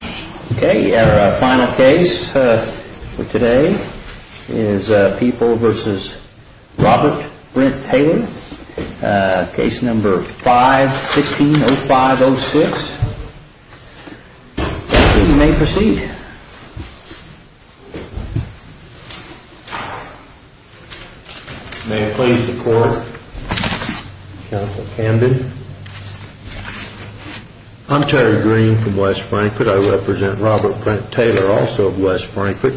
Our final case for today is People v. Robert Brint Taylor, Case No. 5-16-05-06. You may proceed. May it please the Court, Counsel Camden. I'm Terry Green from West Frankfort. I represent Robert Brint Taylor, also of West Frankfort,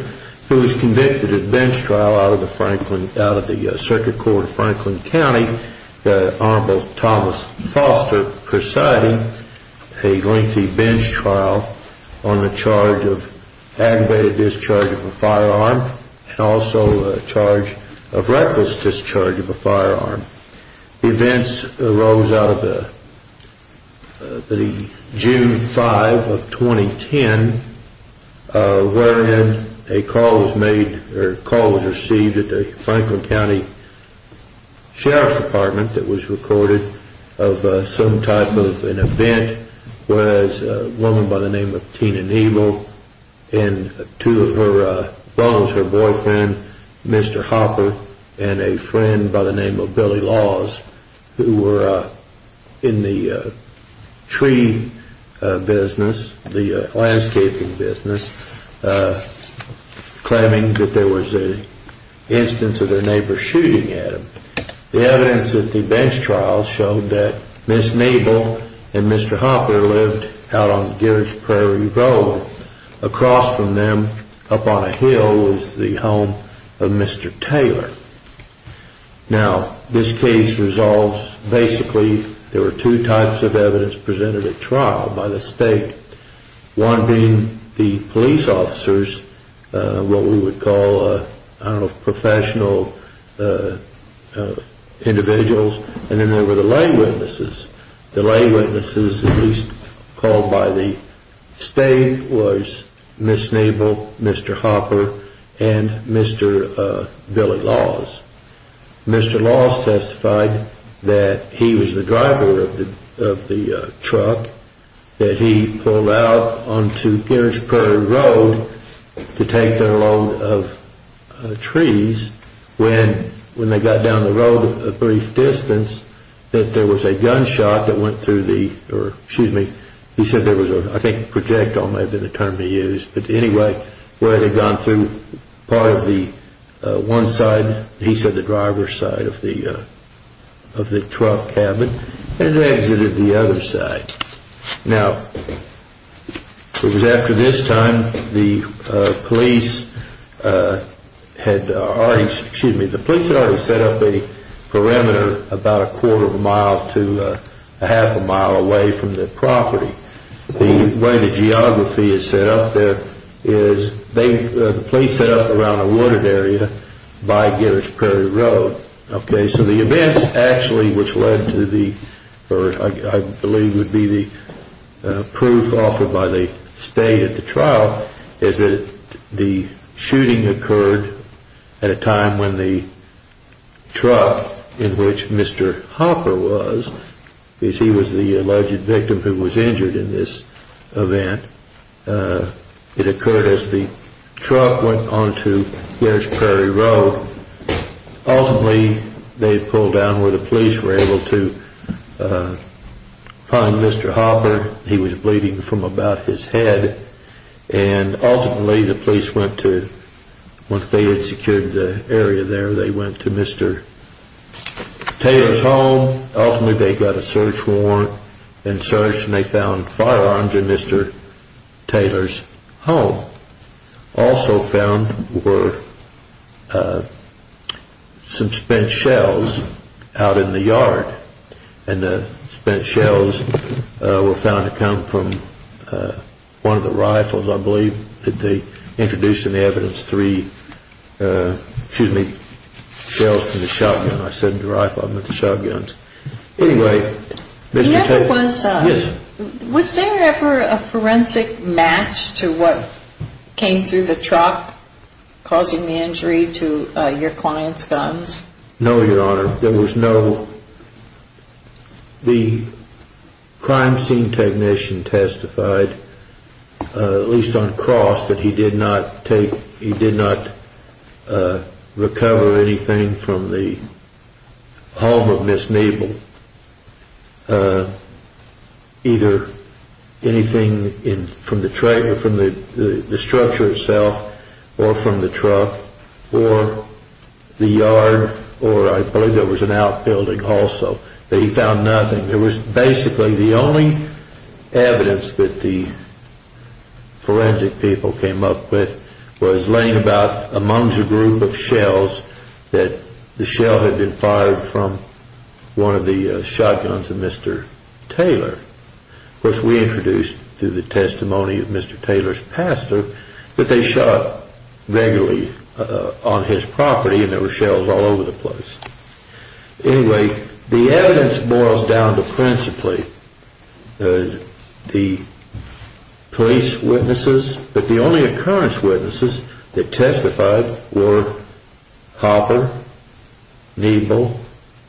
who was convicted at bench trial out of the Circuit Court of Franklin County. The Honorable Thomas Foster presiding a lengthy bench trial on the charge of aggravated discharge of a firearm and also a charge of reckless discharge of a firearm. Events arose out of the June 5, 2010, wherein a call was received at the Franklin County Sheriff's Department that was recorded of some type of an event where a woman by the name of Tina Nebel and two of her foes, her boyfriend Mr. Hopper and a friend by the name of Billy Laws, who were in the tree business, the landscaping business, claiming that there was an instance of their neighbor shooting at them. The evidence at the bench trial showed that Ms. Nebel and Mr. Hopper lived out on George Prairie Road. Across from them, up on a hill, was the home of Mr. Taylor. Now, this case resolves, basically, there were two types of evidence presented at trial by the State. One being the police officers, what we would call, I don't know, professional individuals, and then there were the lay witnesses. The lay witnesses, at least called by the State, was Ms. Nebel, Mr. Hopper, and Mr. Billy Laws. Mr. Laws testified that he was the driver of the truck that he pulled out onto George Prairie Road to take their load of trees. When they got down the road a brief distance, that there was a gunshot that went through the, or, excuse me, he said there was a, I think projectile may have been the term he used, but anyway, where they had gone through part of the one side, he said the driver's side of the truck cabin, and they exited the other side. Now, it was after this time, the police had already set up a perimeter about a quarter of a mile to a half a mile away from the property. The way the geography is set up there is the police set up around a wooded area by Girish Prairie Road. Okay, so the events actually which led to the, or I believe would be the proof offered by the State at the trial, is that the shooting occurred at a time when the truck in which Mr. Hopper was, because he was the alleged victim who was injured in this event, it occurred as the truck went onto Girish Prairie Road. Ultimately, they pulled down where the police were able to find Mr. Hopper. He was bleeding from about his head, and ultimately the police went to, once they had secured the area there, they went to Mr. Taylor's home. Ultimately, they got a search warrant and searched, and they found firearms in Mr. Taylor's home. Also found were some spent shells out in the yard, and the spent shells were found to come from one of the rifles. I believe that they introduced in the evidence three, excuse me, shells from the shotgun. I said the rifle, I meant the shotguns. Anyway, Mr. Taylor. Was there ever a forensic match to what came through the truck causing the injury to your client's guns? No, Your Honor. There was no, the crime scene technician testified, at least on cross, that he did not take, he did not recover anything from the home of Ms. Neible. Either anything from the structure itself, or from the truck, or the yard, or I believe there was an outbuilding also. That he found nothing. There was basically the only evidence that the forensic people came up with was laying about, amongst a group of shells, that the shell had been fired from one of the shotguns of Mr. Taylor. Of course we introduced, through the testimony of Mr. Taylor's pastor, that they shot regularly on his property, and there were shells all over the place. Anyway, the evidence boils down to principally the police witnesses, but the only occurrence witnesses that testified were Hopper, Neible,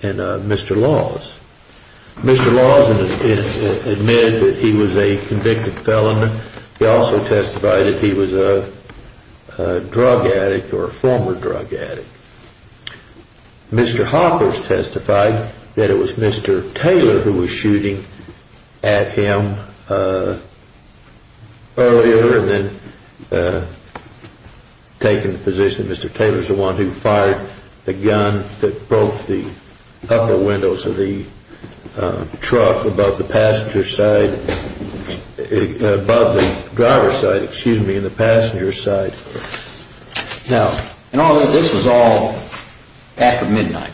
and Mr. Laws. Mr. Laws admitted that he was a convicted felon. He also testified that he was a drug addict, or a former drug addict. Mr. Hopper testified that it was Mr. Taylor who was shooting at him earlier, and then taking the position that Mr. Taylor was the one who fired the gun that broke the upper windows of the truck, above the passenger side, above the driver's side, excuse me, and the passenger's side. And all of this was all after midnight?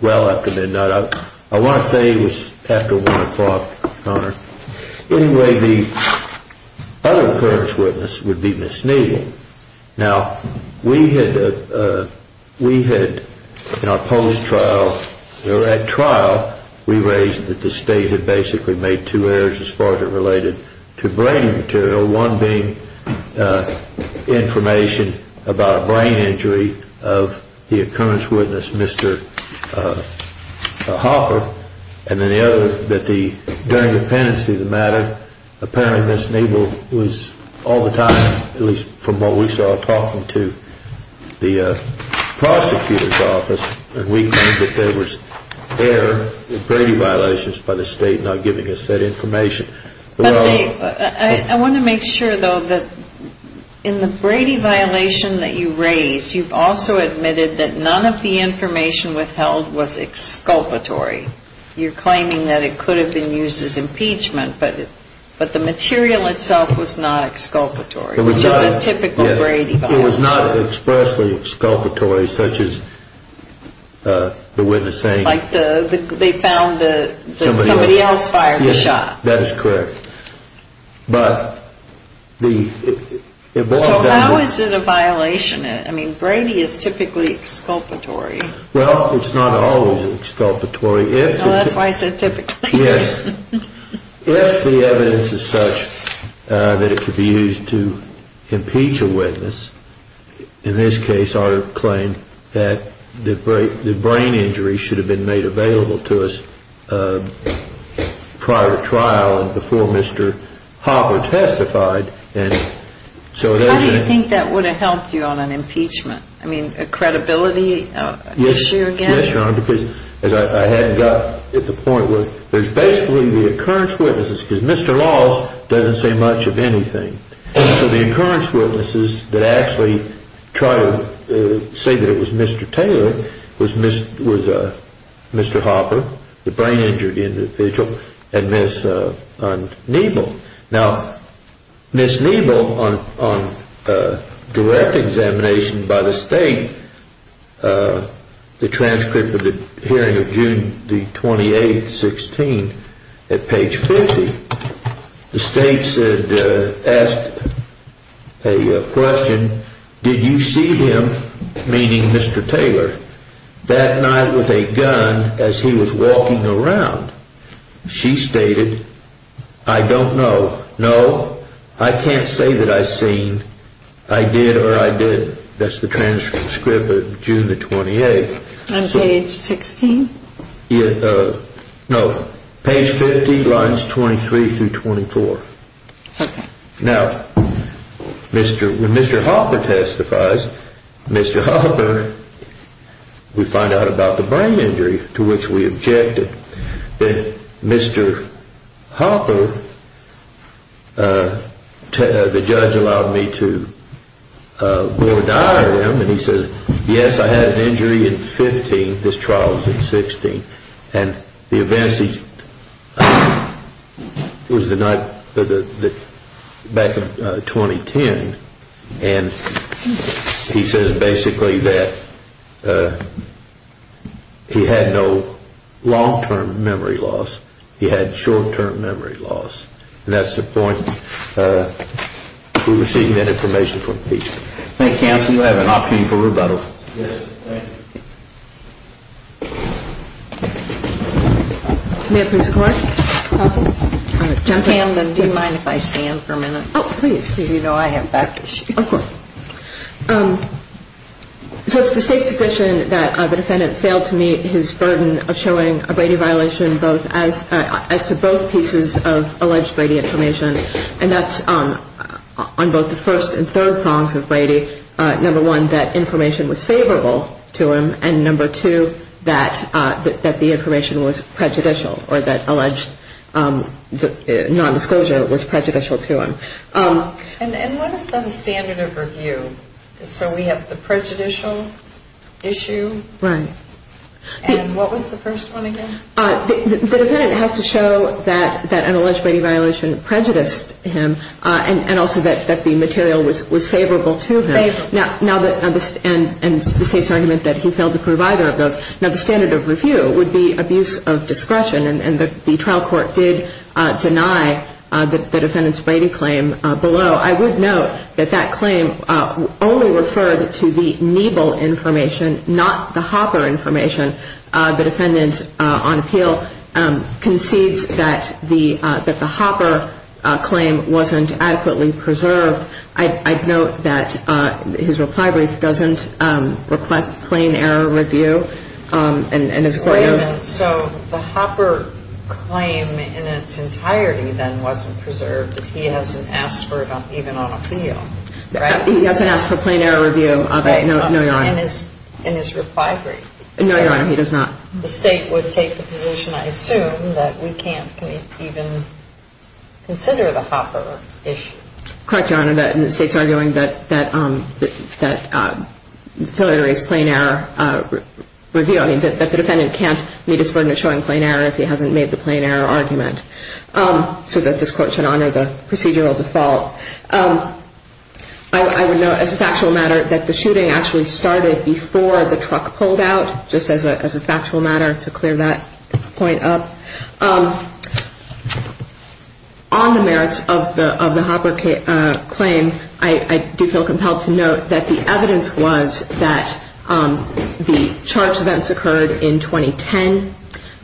Well, after midnight. I want to say it was after one o'clock, Your Honor. Anyway, the other occurrence witness would be Ms. Neible. Now, we had, in our post-trial, or at trial, we raised that the state had basically made two errors as far as it related to brain material, one being information about a brain injury of the occurrence witness, Mr. Hopper, and then the other, that during the pendency of the matter, apparently Ms. Neible was all the time, at least from what we saw, talking to the prosecutor's office, and we claimed that there was error in Brady violations by the state not giving us that information. I want to make sure, though, that in the Brady violation that you raised, you've also admitted that none of the information withheld was exculpatory. You're claiming that it could have been used as impeachment, but the material itself was not exculpatory. It was not expressly exculpatory, such as the witness saying somebody else fired the shot. That is correct. So how is it a violation? I mean, Brady is typically exculpatory. Well, it's not always exculpatory. That's why I said typically. Yes. If the evidence is such that it could be used to impeach a witness, in this case our claim that the brain injury should have been made available to us prior to trial and before Mr. Hopper testified. How do you think that would have helped you on an impeachment? I mean, a credibility issue again? Yes, Your Honor, because I had gotten to the point where there's basically the occurrence witnesses, because Mr. Laws doesn't say much of anything. So the occurrence witnesses that actually tried to say that it was Mr. Taylor was Mr. Hopper, the brain injured individual, and Ms. Neible. Now, Ms. Neible, on direct examination by the state, the transcript of the hearing of June the 28th, 16, at page 50, the state said, asked a question. Did you see him meeting Mr. Taylor that night with a gun as he was walking around? She stated, I don't know. No, I can't say that I've seen. I did or I did. That's the transcript of June the 28th. On page 16? No, page 50, lines 23 through 24. Now, when Mr. Hopper testifies, Mr. Hopper, we find out about the brain injury to which we objected. Mr. Hopper, the judge allowed me to go diagram, and he said, yes, I had an injury in 15. This trial was in 16. It was the night back in 2010, and he says basically that he had no long-term memory loss. He had short-term memory loss. And that's the point. We received that information from PC. Thank you, counsel. You have an opportunity for rebuttal. Yes, thank you. May I please record? Do you mind if I stand for a minute? Oh, please, please. You know I have back issues. Of course. So it's the state's position that the defendant failed to meet his burden of showing a Brady violation as to both pieces of alleged Brady information. And that's on both the first and third prongs of Brady. Number one, that information was favorable to him. And number two, that the information was prejudicial or that alleged nondisclosure was prejudicial to him. And what is the standard of review? So we have the prejudicial issue. Right. And what was the first one again? The defendant has to show that an alleged Brady violation prejudiced him and also that the material was favorable to him. Favorable. And the state's argument that he failed to prove either of those. Now, the standard of review would be abuse of discretion. And the trial court did deny the defendant's Brady claim below. I would note that that claim only referred to the Niebel information, not the Hopper information. The defendant on appeal concedes that the Hopper claim wasn't adequately preserved. I'd note that his reply brief doesn't request plain error review. Wait a minute. So the Hopper claim in its entirety then wasn't preserved. He hasn't asked for it even on appeal. He hasn't asked for plain error review of it. No, Your Honor. In his reply brief. No, Your Honor. He does not. The state would take the position, I assume, that we can't even consider the Hopper issue. Correct, Your Honor. The state's arguing that the defendant can't meet his burden of showing plain error if he hasn't made the plain error argument so that this court should honor the procedural default. I would note as a factual matter that the shooting actually started before the truck pulled out, just as a factual matter to clear that point up. On the merits of the Hopper claim, I do feel compelled to note that the evidence was that the charge events occurred in 2010,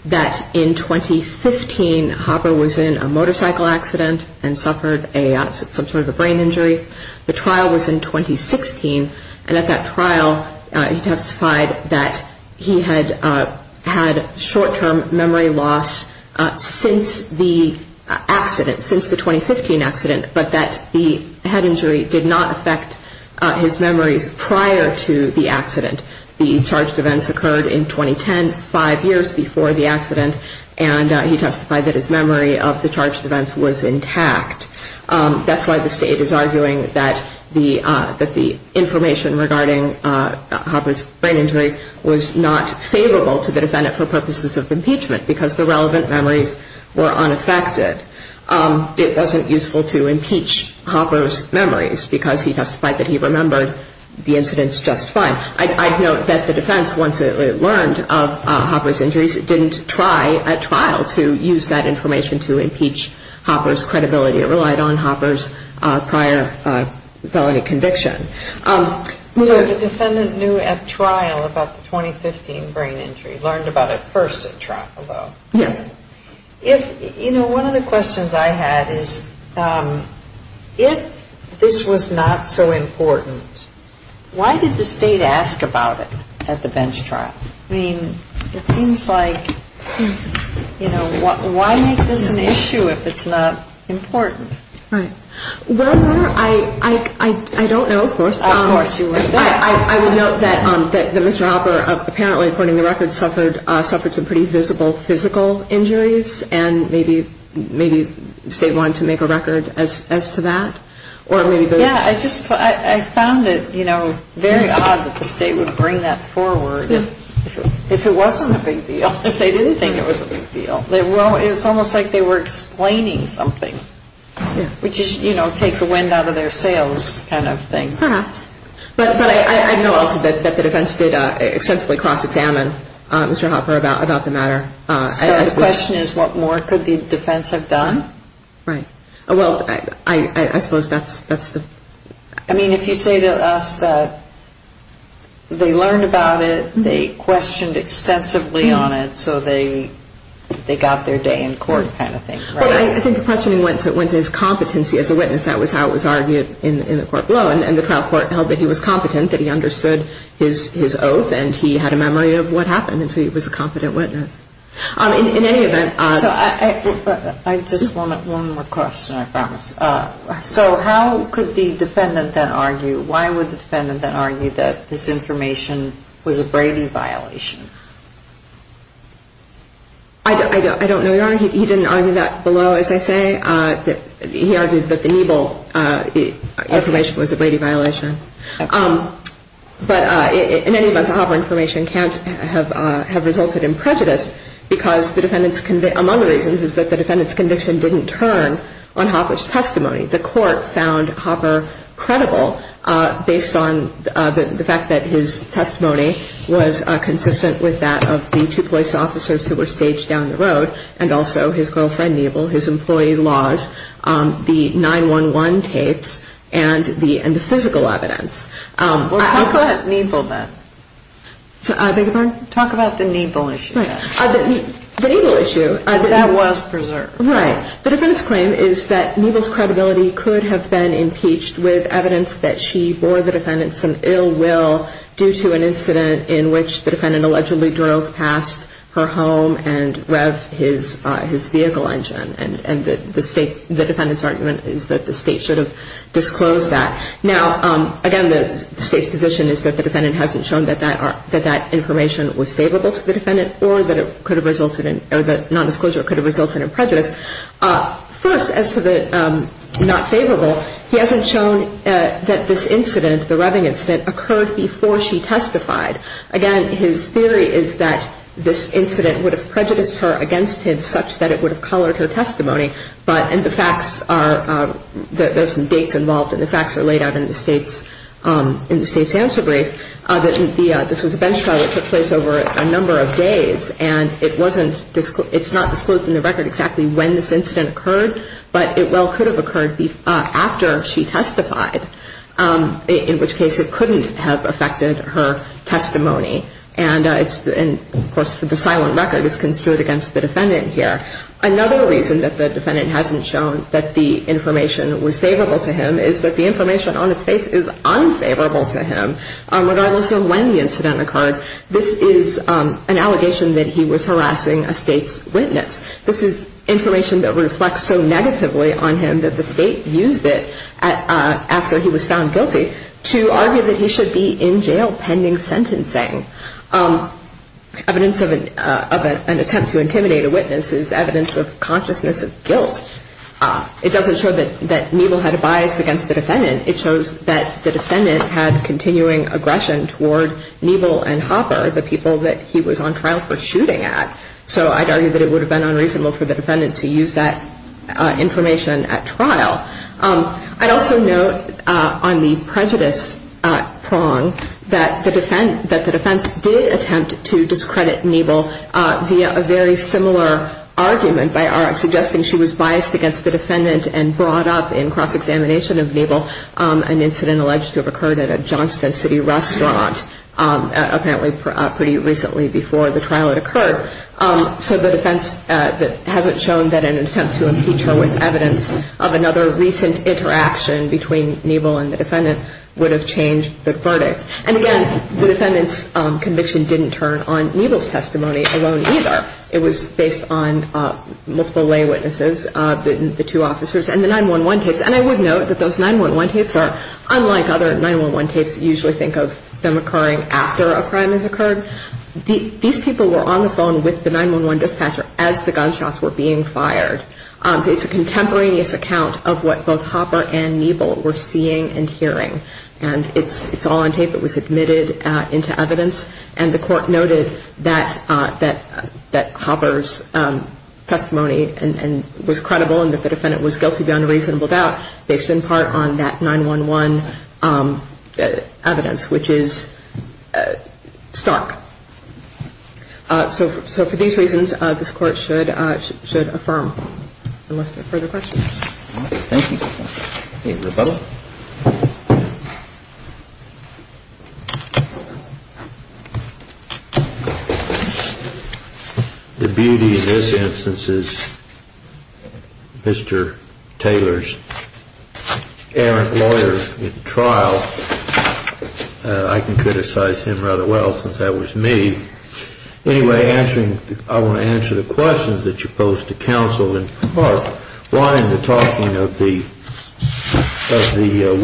that in 2015 Hopper was in a motorcycle accident and suffered some sort of a brain injury. The trial was in 2016, and at that trial he testified that he had had short-term memory loss since the accident, since the 2015 accident, but that the head injury did not affect his memories prior to the accident. The charge events occurred in 2010, five years before the accident, and he testified that his memory of the charge events was intact. That's why the state is arguing that the information regarding Hopper's brain injury was not favorable to the defendant for purposes of impeachment because the relevant memories were unaffected. It wasn't useful to impeach Hopper's memories because he testified that he remembered the incidents just fine. I note that the defense, once it learned of Hopper's injuries, didn't try at trial to use that information to impeach Hopper's credibility. It relied on Hopper's prior felony conviction. So the defendant knew at trial about the 2015 brain injury, learned about it first at trial, though. Yes. One of the questions I had is if this was not so important, why did the state ask about it at the bench trial? I mean, it seems like, you know, why make this an issue if it's not important? Right. Well, I don't know. Of course you would. I would note that Mr. Hopper apparently, according to the records, suffered some pretty visible physical injuries and maybe the state wanted to make a record as to that. Yeah, I just found it, you know, very odd that the state would bring that forward if it wasn't a big deal, if they didn't think it was a big deal. It's almost like they were explaining something, which is, you know, take the wind out of their sails kind of thing. Perhaps. But I know also that the defense did extensively cross-examine Mr. Hopper about the matter. So the question is what more could the defense have done? Right. Well, I suppose that's the... I mean, if you say to us that they learned about it, they questioned extensively on it, so they got their day in court kind of thing, right? Well, I think the questioning went to his competency as a witness. That was how it was argued in the court below. And the trial court held that he was competent, that he understood his oath, and he had a memory of what happened, and so he was a competent witness. In any event... So I just want one more question, I promise. So how could the defendant then argue, why would the defendant then argue that this information was a Brady violation? I don't know, Your Honor. He didn't argue that below, as I say. He argued that the Niebel information was a Brady violation. But in any event, the Hopper information can't have resulted in prejudice because the defendant's... Among the reasons is that the defendant's conviction didn't turn on Hopper's testimony. The court found Hopper credible based on the fact that his testimony was consistent with that of the two police officers who were staged down the road and also his girlfriend, Niebel, his employee laws, the 9-1-1 tapes, and the physical evidence. Well, talk about Niebel then. Beg your pardon? Talk about the Niebel issue then. The Niebel issue... That was preserved. Right. The defendant's claim is that Niebel's credibility could have been impeached with evidence that she bore the defendant some ill will due to an incident in which the defendant allegedly drove past her home and revved his vehicle engine. And the defendant's argument is that the State should have disclosed that. Now, again, the State's position is that the defendant hasn't shown that that information was favorable to the defendant or that non-disclosure could have resulted in prejudice. First, as to the not favorable, he hasn't shown that this incident, the revving incident, occurred before she testified. Again, his theory is that this incident would have prejudiced her against him such that it would have colored her testimony. And the facts are, there are some dates involved, and the facts are laid out in the State's answer brief. This was a bench trial that took place over a number of days, and it's not disclosed in the record exactly when this incident occurred, but it well could have occurred after she testified, in which case it couldn't have affected her testimony. And, of course, the silent record is construed against the defendant here. Another reason that the defendant hasn't shown that the information was favorable to him is that the information on his face is unfavorable to him, regardless of when the incident occurred. This is an allegation that he was harassing a State's witness. This is information that reflects so negatively on him that the State used it after he was found guilty to argue that he should be in jail pending sentencing. Evidence of an attempt to intimidate a witness is evidence of consciousness of guilt. It doesn't show that Neble had a bias against the defendant. It shows that the defendant had continuing aggression toward Neble and Hopper, the people that he was on trial for shooting at. So I'd argue that it would have been unreasonable for the defendant to use that information at trial. I'd also note on the prejudice prong that the defense did attempt to discredit Neble via a very similar argument by our suggesting she was biased against the defendant and brought up in cross-examination of Neble an incident alleged to have occurred at a Johnston City restaurant apparently pretty recently before the trial had occurred. So the defense hasn't shown that an attempt to impeach her with evidence of another recent interaction between Neble and the defendant would have changed the verdict. And again, the defendant's conviction didn't turn on Neble's testimony alone either. It was based on multiple lay witnesses, the two officers, and the 911 tapes. And I would note that those 911 tapes are unlike other 911 tapes that usually think of them occurring after a crime has occurred. These people were on the phone with the 911 dispatcher as the gunshots were being fired. So it's a contemporaneous account of what both Hopper and Neble were seeing and hearing. And it's all on tape. It was admitted into evidence. And the court noted that Hopper's testimony was credible and that the defendant was guilty beyond a reasonable doubt based in part on that 911 evidence, which is stark. So for these reasons, this Court should affirm. Unless there are further questions. Thank you. Ms. Butler? The beauty in this instance is Mr. Taylor's errant lawyer in trial. I can criticize him rather well since that was me. Anyway, I want to answer the questions that you posed to counsel. Why in the talking of the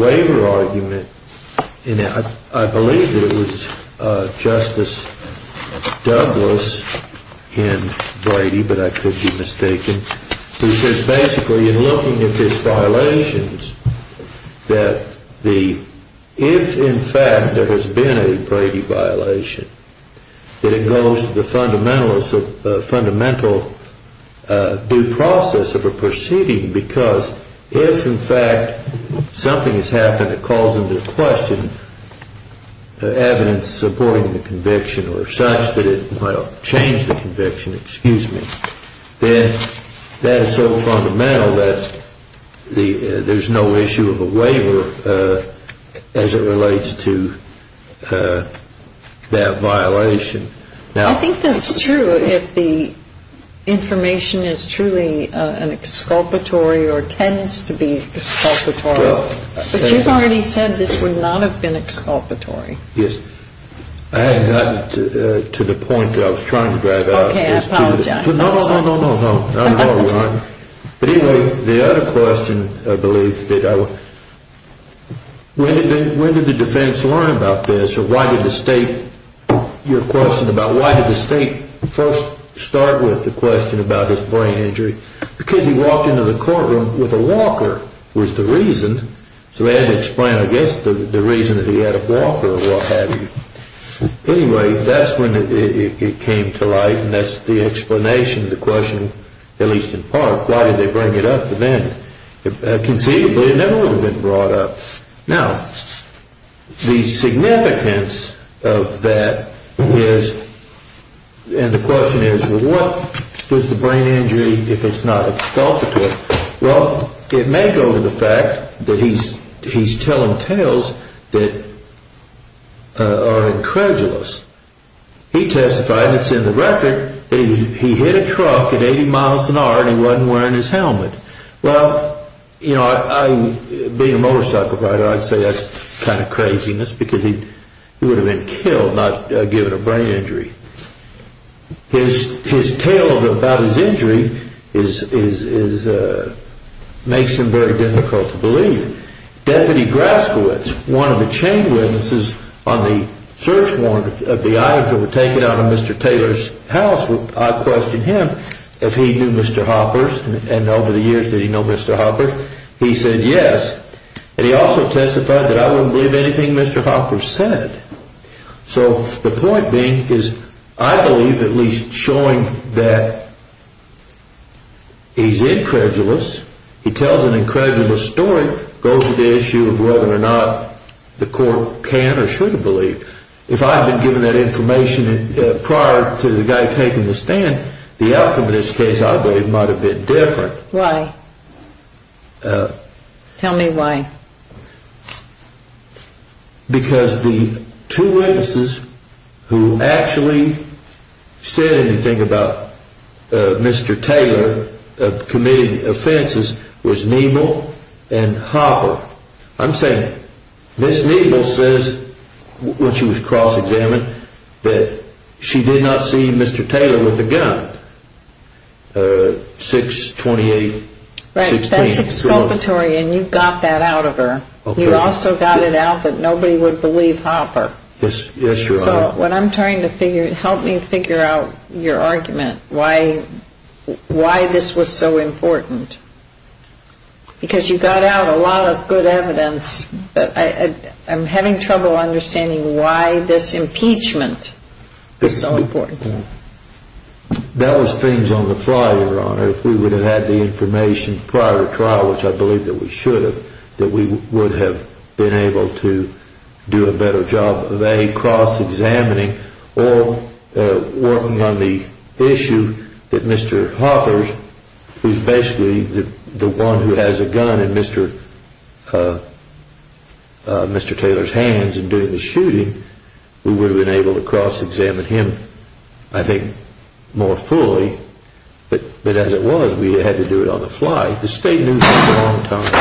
waiver argument, I believe it was Justice Douglas in Brady, but I could be mistaken. He says basically in looking at his violations, that if in fact there has been a Brady violation, that it goes to the fundamental due process of a proceeding, because if in fact something has happened that calls into question evidence supporting the conviction or such that it, well, changed the conviction, excuse me, then that is so fundamental that there's no issue of a waiver as it relates to that violation. I think that's true if the information is truly an exculpatory or tends to be exculpatory. But you've already said this would not have been exculpatory. Yes. I hadn't gotten to the point that I was trying to drive out. Okay, I apologize. No, no, no, no, no, no. But anyway, the other question I believe that I was, when did the defense learn about this or why did the state, your question about why did the state first start with the question about his brain injury? Because he walked into the courtroom with a walker was the reason. So they had to explain, I guess, the reason that he had a walker or what have you. Anyway, that's when it came to light and that's the explanation of the question, at least in part, why did they bring it up then? Conceivably, it never would have been brought up. Now, the significance of that is, and the question is, what does the brain injury, if it's not exculpatory, well, it may go to the fact that he's telling tales that are incredulous. He testified, it's in the record, that he hit a truck at 80 miles an hour and he wasn't wearing his helmet. Well, you know, being a motorcycle rider, I'd say that's kind of craziness because he would have been killed, not given a brain injury. His tale about his injury makes him very difficult to believe. Deputy Graskowitz, one of the chain witnesses on the search warrant of the items that were taken out of Mr. Taylor's house, I questioned him if he knew Mr. Hoppers and over the years, did he know Mr. Hoppers? He said yes. And he also testified that I wouldn't believe anything Mr. Hoppers said. So the point being is, I believe at least showing that he's incredulous, he tells an incredulous story, goes to the issue of whether or not the court can or should have believed. If I had been given that information prior to the guy taking the stand, the outcome of this case, I believe, might have been different. Why? Tell me why. Because the two witnesses who actually said anything about Mr. Taylor committing offenses was Niebel and Hopper. I'm saying Ms. Niebel says, when she was cross-examined, that she did not see Mr. Taylor with a gun, 6-28-16. That's exculpatory, and you got that out of her. You also got it out that nobody would believe Hopper. Yes, Your Honor. So what I'm trying to figure, help me figure out your argument, why this was so important. Because you got out a lot of good evidence, but I'm having trouble understanding why this impeachment is so important. That was things on the fly, Your Honor. If we would have had the information prior to trial, which I believe that we should have, that we would have been able to do a better job of, A, cross-examining, or working on the issue that Mr. Hopper, who's basically the one who has a gun in Mr. Taylor's hands and doing the shooting, we would have been able to cross-examine him, I think, more fully. But as it was, we had to do it on the fly. The State knew for a long time.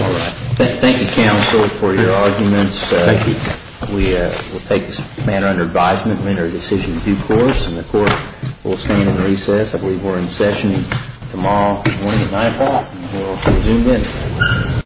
All right. Thank you, Counsel, for your arguments. Thank you. We will take this matter under advisement and enter a decision in due course, and the Court will stand in recess. If we were in session tomorrow morning at 9 o'clock, we'll zoom in.